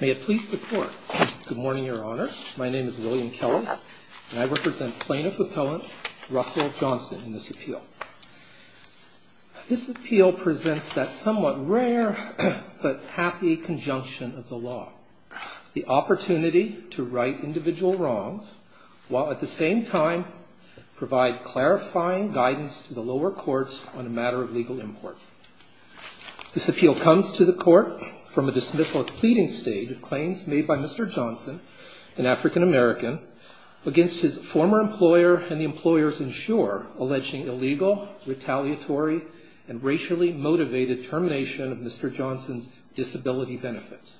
May it please the Court. Good morning, Your Honor. My name is William Keller, and I represent Plaintiff Appellant Russell Johnson in this appeal. This appeal presents that somewhat rare but happy conjunction of the law, the opportunity to right individual wrongs while at the same time provide clarifying guidance to the lower courts on a matter of legal import. This appeal comes to the Court from a dismissal at the pleading stage of claims made by Mr. Johnson, an African American, against his former employer and the employer's insurer, alleging illegal, retaliatory, and racially motivated termination of Mr. Johnson's disability benefits.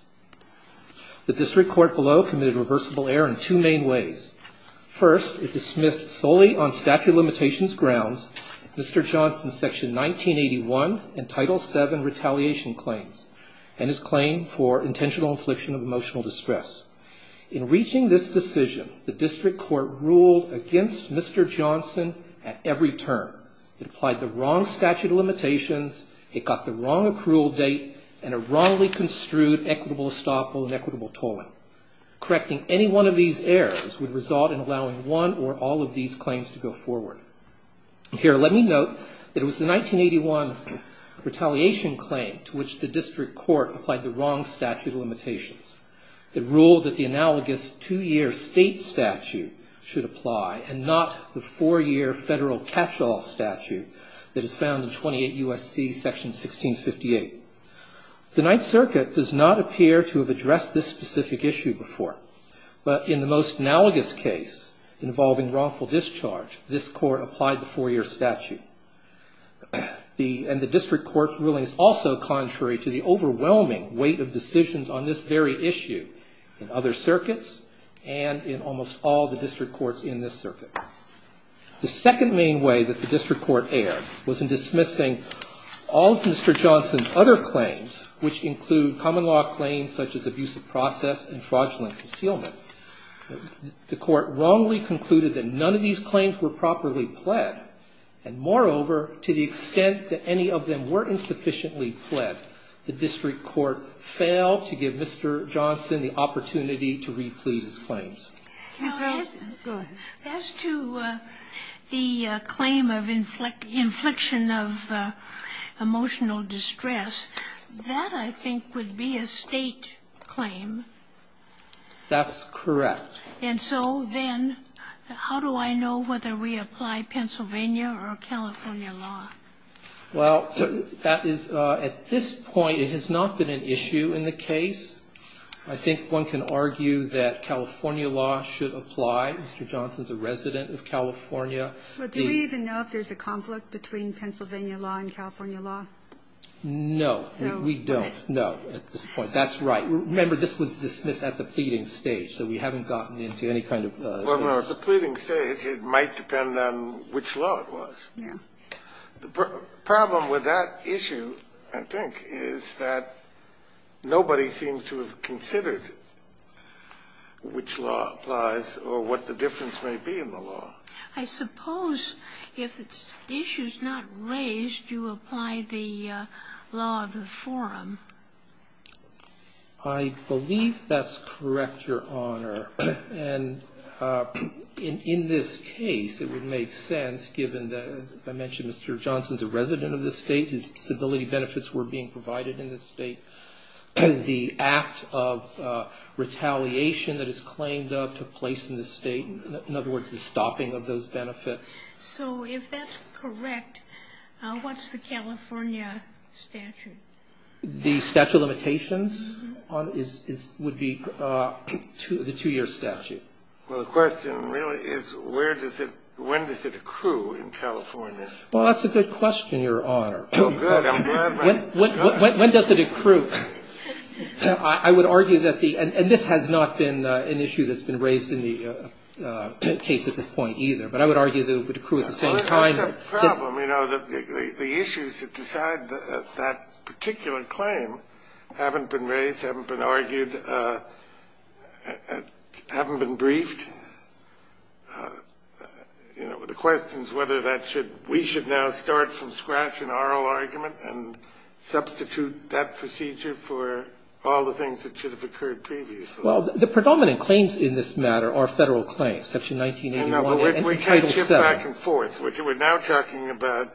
The district court below committed reversible error in two main ways. First, it dismissed solely on statute of limitations grounds Mr. Johnson's Section 1981 and Title VII retaliation claims and his claim for intentional infliction of emotional distress. In reaching this decision, the district court ruled against Mr. Johnson at every term. It applied the wrong statute of limitations, it got the wrong approval date, and it wrongly construed equitable estoppel and equitable tolling. Correcting any one of these errors would result in allowing one or all of these claims to go forward. Here, let me note that it was the 1981 retaliation claim to which the district court applied the wrong statute of limitations. It ruled that the analogous two-year state statute should apply and not the four-year federal catch-all statute that is found in 28 U.S.C. Section 1658. The Ninth Circuit does not appear to have addressed this specific issue before, but in the most analogous case involving wrongful discharge, this court applied the four-year statute. And the district court's ruling is also contrary to the overwhelming weight of decisions on this very issue in other circuits and in almost all the district courts in this circuit. The second main way that the district court erred was in dismissing all of Mr. Johnson's other claims, which include common law claims such as abusive process and fraudulent concealment. The court wrongly concluded that none of these claims were properly pled, and moreover, to the extent that any of them were insufficiently pled, the district court failed to give Mr. Johnson the opportunity to replead his claims. Sotomayor, go ahead. Ginsburg, as to the claim of infliction of emotional distress, that, I think, would be a State claim. That's correct. And so then how do I know whether we apply Pennsylvania or California law? Well, that is, at this point, it has not been an issue in the case. I think one can argue that California law should apply. Mr. Johnson's a resident of California. Do we even know if there's a conflict between Pennsylvania law and California law? No, we don't. No, at this point. That's right. Remember, this was dismissed at the pleading stage, so we haven't gotten into any kind of case. Well, at the pleading stage, it might depend on which law it was. Yeah. The problem with that issue, I think, is that nobody seems to have considered which law applies or what the difference may be in the law. I suppose if the issue is not raised, you apply the law of the forum. I believe that's correct, Your Honor. And in this case, it would make sense, given that, as I mentioned, Mr. Johnson's a resident of this State. His disability benefits were being provided in this State. The act of retaliation that is claimed of took place in this State, in other words, the stopping of those benefits. So if that's correct, what's the California statute? I think the statute of limitations would be the two-year statute. Well, the question really is where does it ñ when does it accrue in California? Well, that's a good question, Your Honor. Oh, good. I'm glad my ñ When does it accrue? I would argue that the ñ and this has not been an issue that's been raised in the case at this point either. But I would argue that it would accrue at the same time. Well, that's a problem. You know, the issues that decide that particular claim haven't been raised, haven't been argued, haven't been briefed. You know, the question is whether that should ñ we should now start from scratch an oral argument and substitute that procedure for all the things that should have occurred previously. Well, the predominant claims in this matter are Federal claims, Section 1981 and Title VII. But we can't shift back and forth. We're now talking about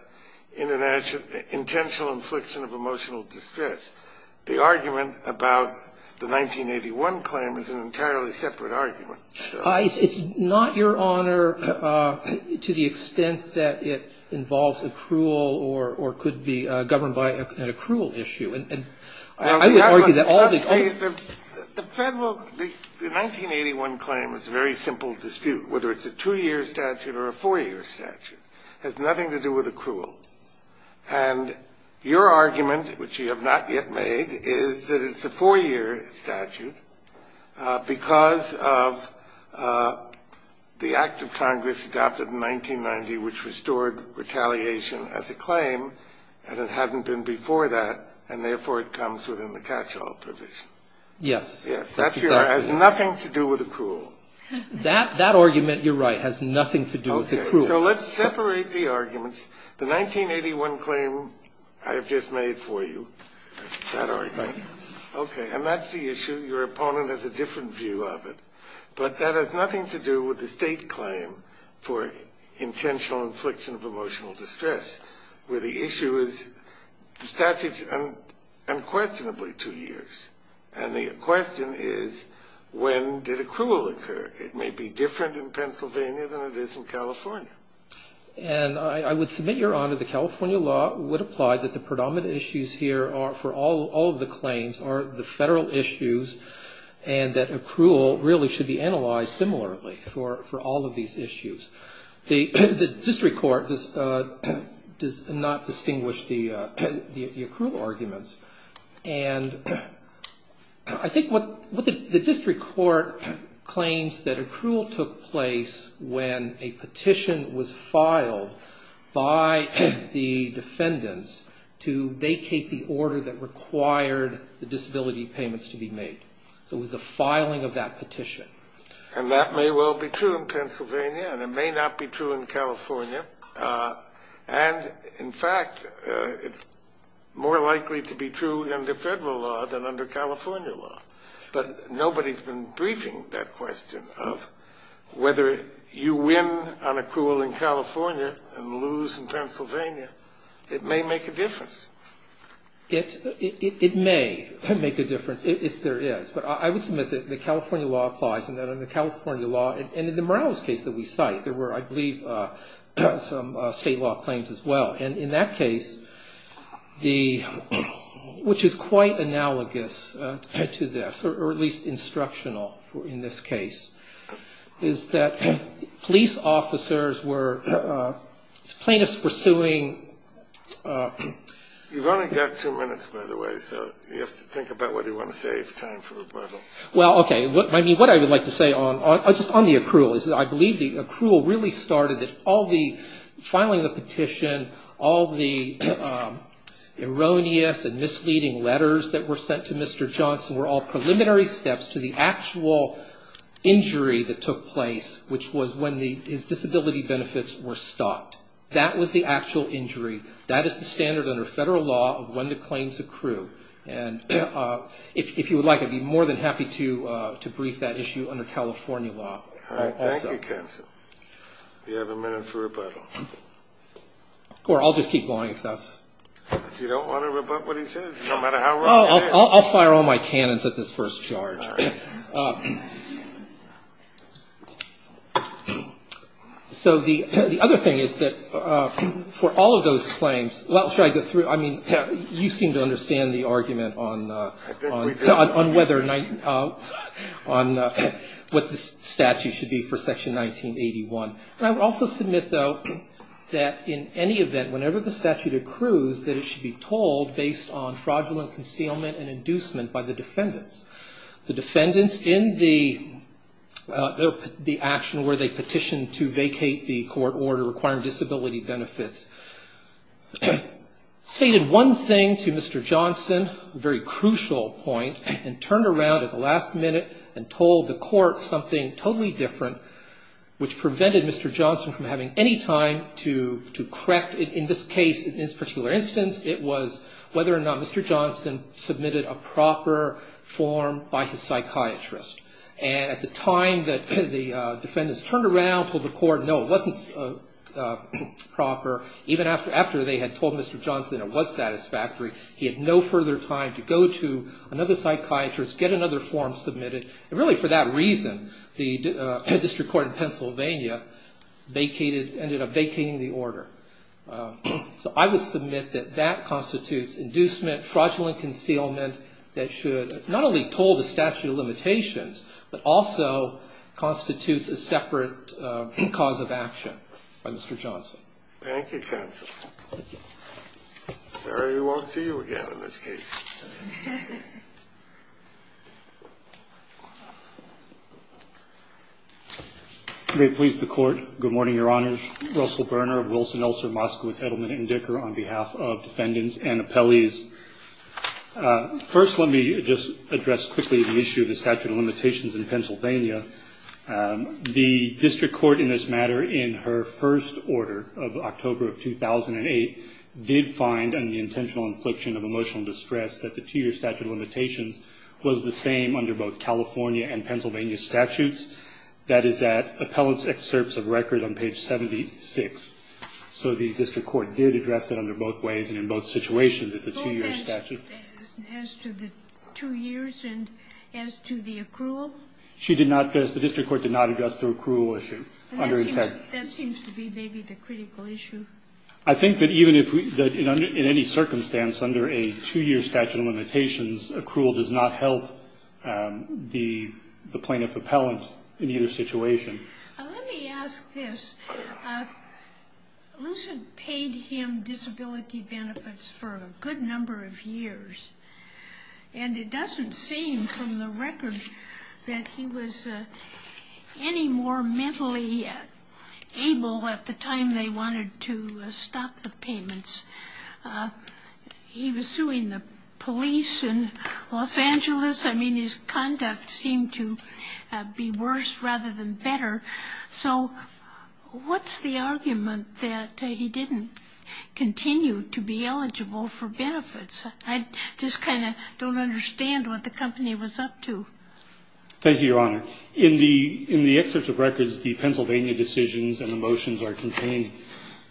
intentional infliction of emotional distress. The argument about the 1981 claim is an entirely separate argument. It's not, Your Honor, to the extent that it involves accrual or could be governed by an accrual issue. And I would argue that all the ñ The Federal ñ the 1981 claim is a very simple dispute, whether it's a two-year statute or a four-year statute. It has nothing to do with accrual. And your argument, which you have not yet made, is that it's a four-year statute because of the Act of Congress adopted in 1990, which restored retaliation as a claim, and it hadn't been before that, and therefore it comes within the catch-all provision. Yes. Yes. That has nothing to do with accrual. That argument, Your Honor, has nothing to do with accrual. Okay. So let's separate the arguments. The 1981 claim I have just made for you, that argument. Okay. And that's the issue. Your opponent has a different view of it. But that has nothing to do with the State claim for intentional infliction of emotional distress, where the issue is the statute is unquestionably two years. And the question is, when did accrual occur? It may be different in Pennsylvania than it is in California. And I would submit, Your Honor, the California law would apply that the predominant issues here are, for all of the claims, are the Federal issues, and that accrual really should be analyzed similarly for all of these issues. The district court does not distinguish the accrual arguments. And I think what the district court claims that accrual took place when a petition was filed by the defendants to vacate the order that required the disability payments to be made. So it was the filing of that petition. And that may well be true in Pennsylvania, and it may not be true in California. And, in fact, it's more likely to be true under Federal law than under California law. But nobody has been briefing that question of whether you win on accrual in California and lose in Pennsylvania. It may make a difference. It may make a difference, if there is. But I would submit that the California law applies and that under California law, and in the Morales case that we cite, there were, I believe, some state law claims as well. And in that case, which is quite analogous to this, or at least instructional in this case, is that police officers were plaintiffs pursuing. You've only got two minutes, by the way. So you have to think about what you want to say if time for rebuttal. Well, okay. What I would like to say on the accrual is I believe the accrual really started at all the filing of the petition, all the erroneous and misleading letters that were sent to Mr. Johnson were all preliminary steps to the actual injury that took place, which was when his disability benefits were stopped. That was the actual injury. That is the standard under federal law of when the claims accrue. And if you would like, I'd be more than happy to brief that issue under California law. All right. Thank you, Counsel. You have a minute for rebuttal. Or I'll just keep going if that's... If you don't want to rebut what he says, no matter how wrong it is. I'll fire all my cannons at this first charge. All right. So the other thing is that for all of those claims, well, should I go through? I mean, you seem to understand the argument on whether, on what the statute should be for Section 1981. And I would also submit, though, that in any event, whenever the statute accrues, that it should be told based on fraudulent concealment and inducement by the defendants. The defendants in the action where they petitioned to vacate the court order requiring disability benefits stated one thing to Mr. Johnson, a very crucial point, and turned around at the last minute and told the court something totally different, which prevented Mr. Johnson from having any time to correct. In this case, in this particular instance, it was whether or not Mr. Johnson submitted a proper form by his psychiatrist. And at the time that the defendants turned around, told the court, no, it wasn't proper, even after they had told Mr. Johnson it was satisfactory, he had no further time to go to another psychiatrist, get another form submitted. And really for that reason, the district court in Pennsylvania ended up vacating the order. So I would submit that that constitutes inducement, fraudulent concealment that should not only toll the statute of limitations, but also constitutes a separate cause of action by Mr. Johnson. Thank you, counsel. I'm sorry we won't see you again in this case. May it please the Court. Good morning, Your Honors. I'm Russell Berner of Wilson, Elser, Moskowitz, Edelman & Dicker, on behalf of defendants and appellees. First, let me just address quickly the issue of the statute of limitations in Pennsylvania. The district court in this matter, in her first order of October of 2008, did find in the intentional infliction of emotional distress that the two-year statute of limitations was the same under both California and Pennsylvania statutes. That is at Appellant's Excerpts of Record on page 76. So the district court did address that under both ways and in both situations as a two-year statute. As to the two years and as to the accrual? She did not address the district court did not address the accrual issue. That seems to be maybe the critical issue. I think that even if we, in any circumstance under a two-year statute of limitations, accrual does not help the plaintiff appellant in either situation. Let me ask this. Wilson paid him disability benefits for a good number of years, and it doesn't seem from the record that he was any more mentally able He was suing the police in Los Angeles. I mean, his conduct seemed to be worse rather than better. So what's the argument that he didn't continue to be eligible for benefits? I just kind of don't understand what the company was up to. Thank you, Your Honor. In the Excerpts of Records, the Pennsylvania decisions and the motions are contained.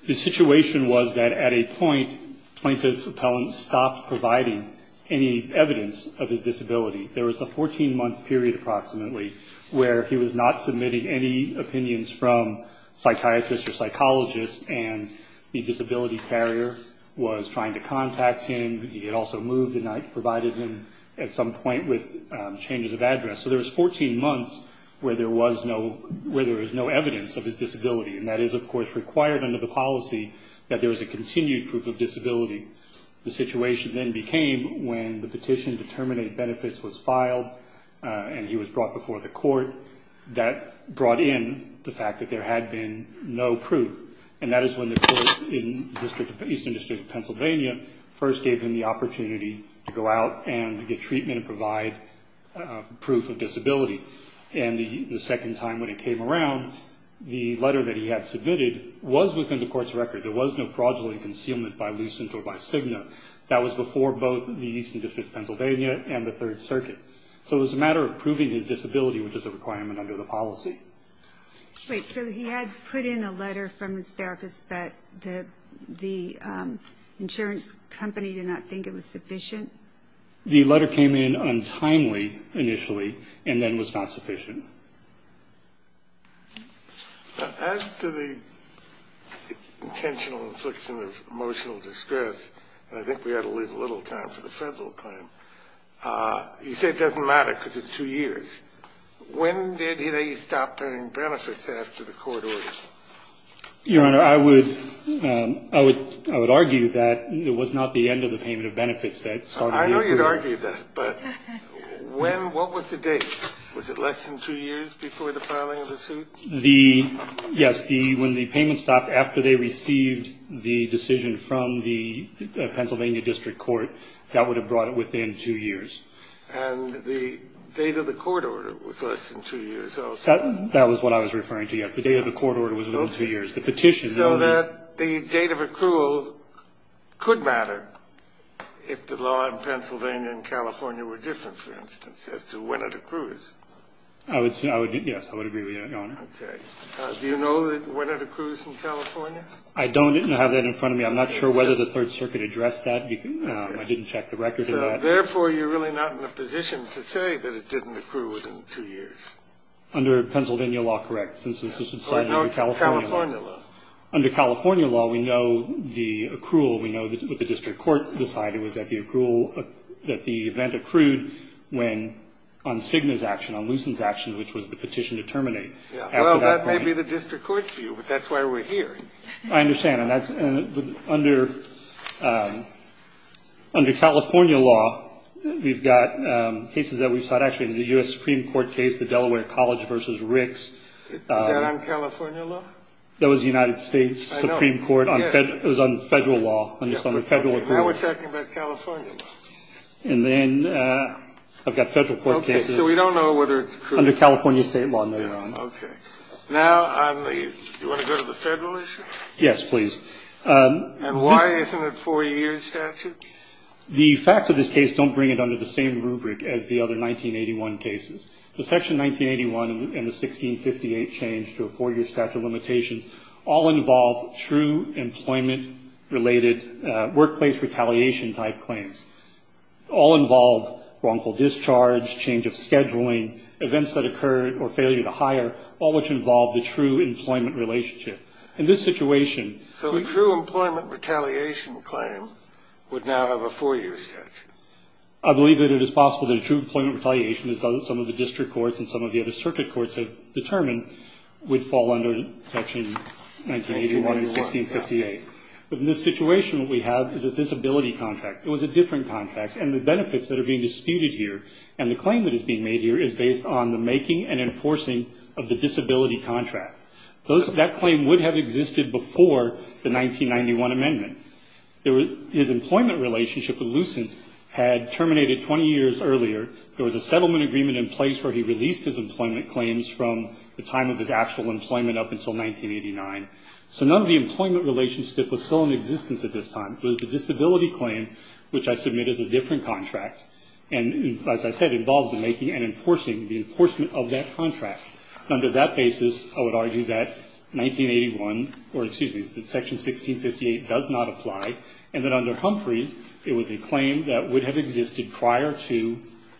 The situation was that at a point, plaintiff's appellant stopped providing any evidence of his disability. There was a 14-month period, approximately, where he was not submitting any opinions from psychiatrists or psychologists, and the disability carrier was trying to contact him. He had also moved and not provided him at some point with changes of address. So there was 14 months where there was no evidence of his disability, and that is, of course, required under the policy that there was a continued proof of disability. The situation then became when the petition to terminate benefits was filed and he was brought before the court. That brought in the fact that there had been no proof, and that is when the court in the Eastern District of Pennsylvania first gave him the opportunity to go out and get treatment and provide proof of disability. And the second time when it came around, the letter that he had submitted was within the court's record. There was no fraudulent concealment by lucent or by Cigna. That was before both the Eastern District of Pennsylvania and the Third Circuit. So it was a matter of proving his disability, which is a requirement under the policy. Wait, so he had put in a letter from his therapist that the insurance company did not think it was sufficient? The letter came in untimely initially and then was not sufficient. As to the intentional infliction of emotional distress, and I think we ought to leave a little time for the federal claim, you say it doesn't matter because it's two years. When did he stop paying benefits after the court ordered it? Your Honor, I would argue that it was not the end of the payment of benefits. I know you'd argue that, but what was the date? Was it less than two years before the filing of the suit? Yes, when the payment stopped after they received the decision from the Pennsylvania District Court, that would have brought it within two years. And the date of the court order was less than two years. That was what I was referring to, yes. The date of the court order was within two years. So that the date of accrual could matter if the law in Pennsylvania and California were different, for instance, as to when it accrues. Yes, I would agree with you, Your Honor. Okay. Do you know when it accrues in California? I don't. I didn't have that in front of me. I'm not sure whether the Third Circuit addressed that. I didn't check the record for that. Therefore, you're really not in a position to say that it didn't accrue within two years. Under Pennsylvania law, correct, since this was decided under California law. Under California law. Under California law, we know the accrual. We know that what the district court decided was that the accrual, that the event accrued when on Cigna's action, on Lucen's action, which was the petition to terminate. Well, that may be the district court's view, but that's why we're here. I understand. And that's under California law, we've got cases that we've sought. Actually, the U.S. Supreme Court case, the Delaware College v. Ricks. Is that on California law? That was the United States Supreme Court. I know. It was on federal law, under federal accrual. Now we're talking about California law. And then I've got federal court cases. Okay. So we don't know whether it's accrued. Under California state law, no, Your Honor. Okay. Now, do you want to go to the federal issue? Yes, please. And why isn't it a four-year statute? The facts of this case don't bring it under the same rubric as the other 1981 cases. The Section 1981 and the 1658 change to a four-year statute of limitations all involve true employment-related workplace retaliation-type claims. All involve wrongful discharge, change of scheduling, events that occur, or failure to hire, all which involve the true employment relationship. I believe that it is possible that a true employment retaliation, as some of the district courts and some of the other circuit courts have determined, would fall under Section 1981 and 1658. But in this situation, what we have is a disability contract. It was a different contract. And the benefits that are being disputed here and the claim that is being made here is based on the making and enforcing of the disability contract. That claim would have existed before the 1991 amendment. His employment relationship with Lucent had terminated 20 years earlier. There was a settlement agreement in place where he released his employment claims from the time of his actual employment up until 1989. So none of the employment relationship was still in existence at this time. It was the disability claim, which I submit is a different contract, and as I said, involves the making and enforcing, the enforcement of that contract. Under that basis, I would argue that Section 1658 does not apply, and that under Humphreys it was a claim that would have existed prior to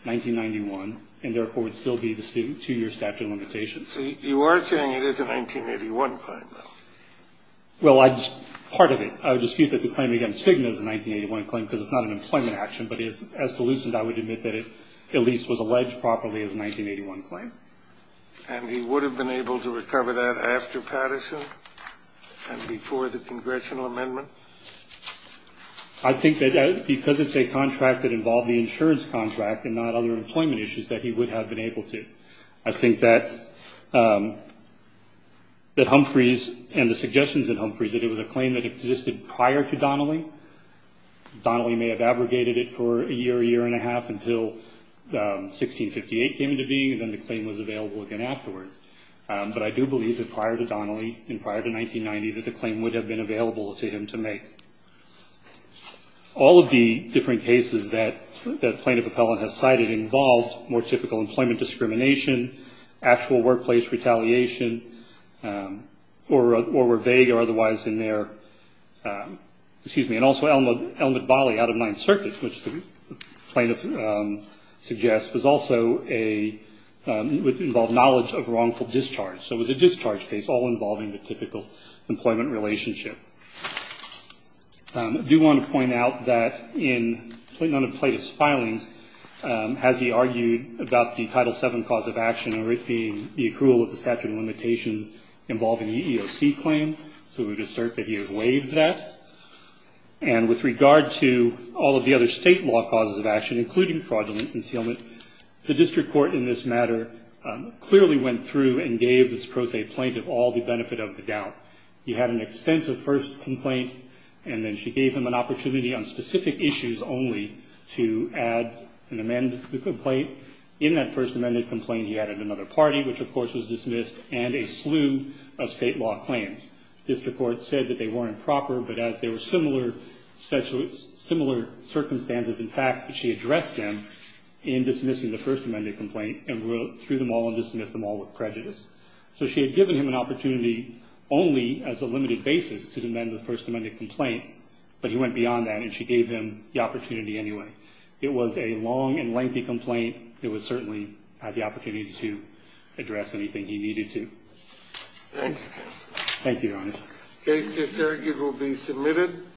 1991 and therefore would still be the two-year statute of limitations. So you are saying it is a 1981 claim? Well, part of it. I would dispute that the claim against Signa is a 1981 claim because it's not an employment action, but as to Lucent, I would admit that it at least was alleged properly as a 1981 claim. And he would have been able to recover that after Patterson and before the congressional amendment? I think that because it's a contract that involved the insurance contract and not other employment issues that he would have been able to. I think that Humphreys and the suggestions in Humphreys, that it was a claim that existed prior to Donnelly. Donnelly may have abrogated it for a year, a year and a half until 1658 came into being and then the claim was available again afterwards. But I do believe that prior to Donnelly and prior to 1990, that the claim would have been available to him to make. All of the different cases that Plaintiff Appellant has cited involved more typical employment discrimination, actual workplace retaliation, or were vague or otherwise in their, excuse me, and also Elmwood Bali out of Ninth Circuit, which the plaintiff suggests, was also a, involved knowledge of wrongful discharge. So it was a discharge case all involving the typical employment relationship. I do want to point out that in none of the plaintiff's filings has he argued about the Title VII cause of action or it being the accrual of the statute of limitations involving the EEOC claim. So we would assert that he has waived that. And with regard to all of the other state law causes of action, including fraudulent concealment, the district court in this matter clearly went through and gave this pro se plaintiff all the benefit of the doubt. He had an extensive first complaint and then she gave him an opportunity on specific issues only to add and amend the complaint. In that first amended complaint he added another party, which of course was dismissed, and a slew of state law claims. District court said that they weren't proper, but as there were similar circumstances and facts, that she addressed them in dismissing the first amended complaint and threw them all and dismissed them all with prejudice. So she had given him an opportunity only as a limited basis to amend the first amended complaint, but he went beyond that and she gave him the opportunity anyway. It was a long and lengthy complaint. It was certainly the opportunity to address anything he needed to. Thank you. Thank you, Your Honor. The case disargued will be submitted.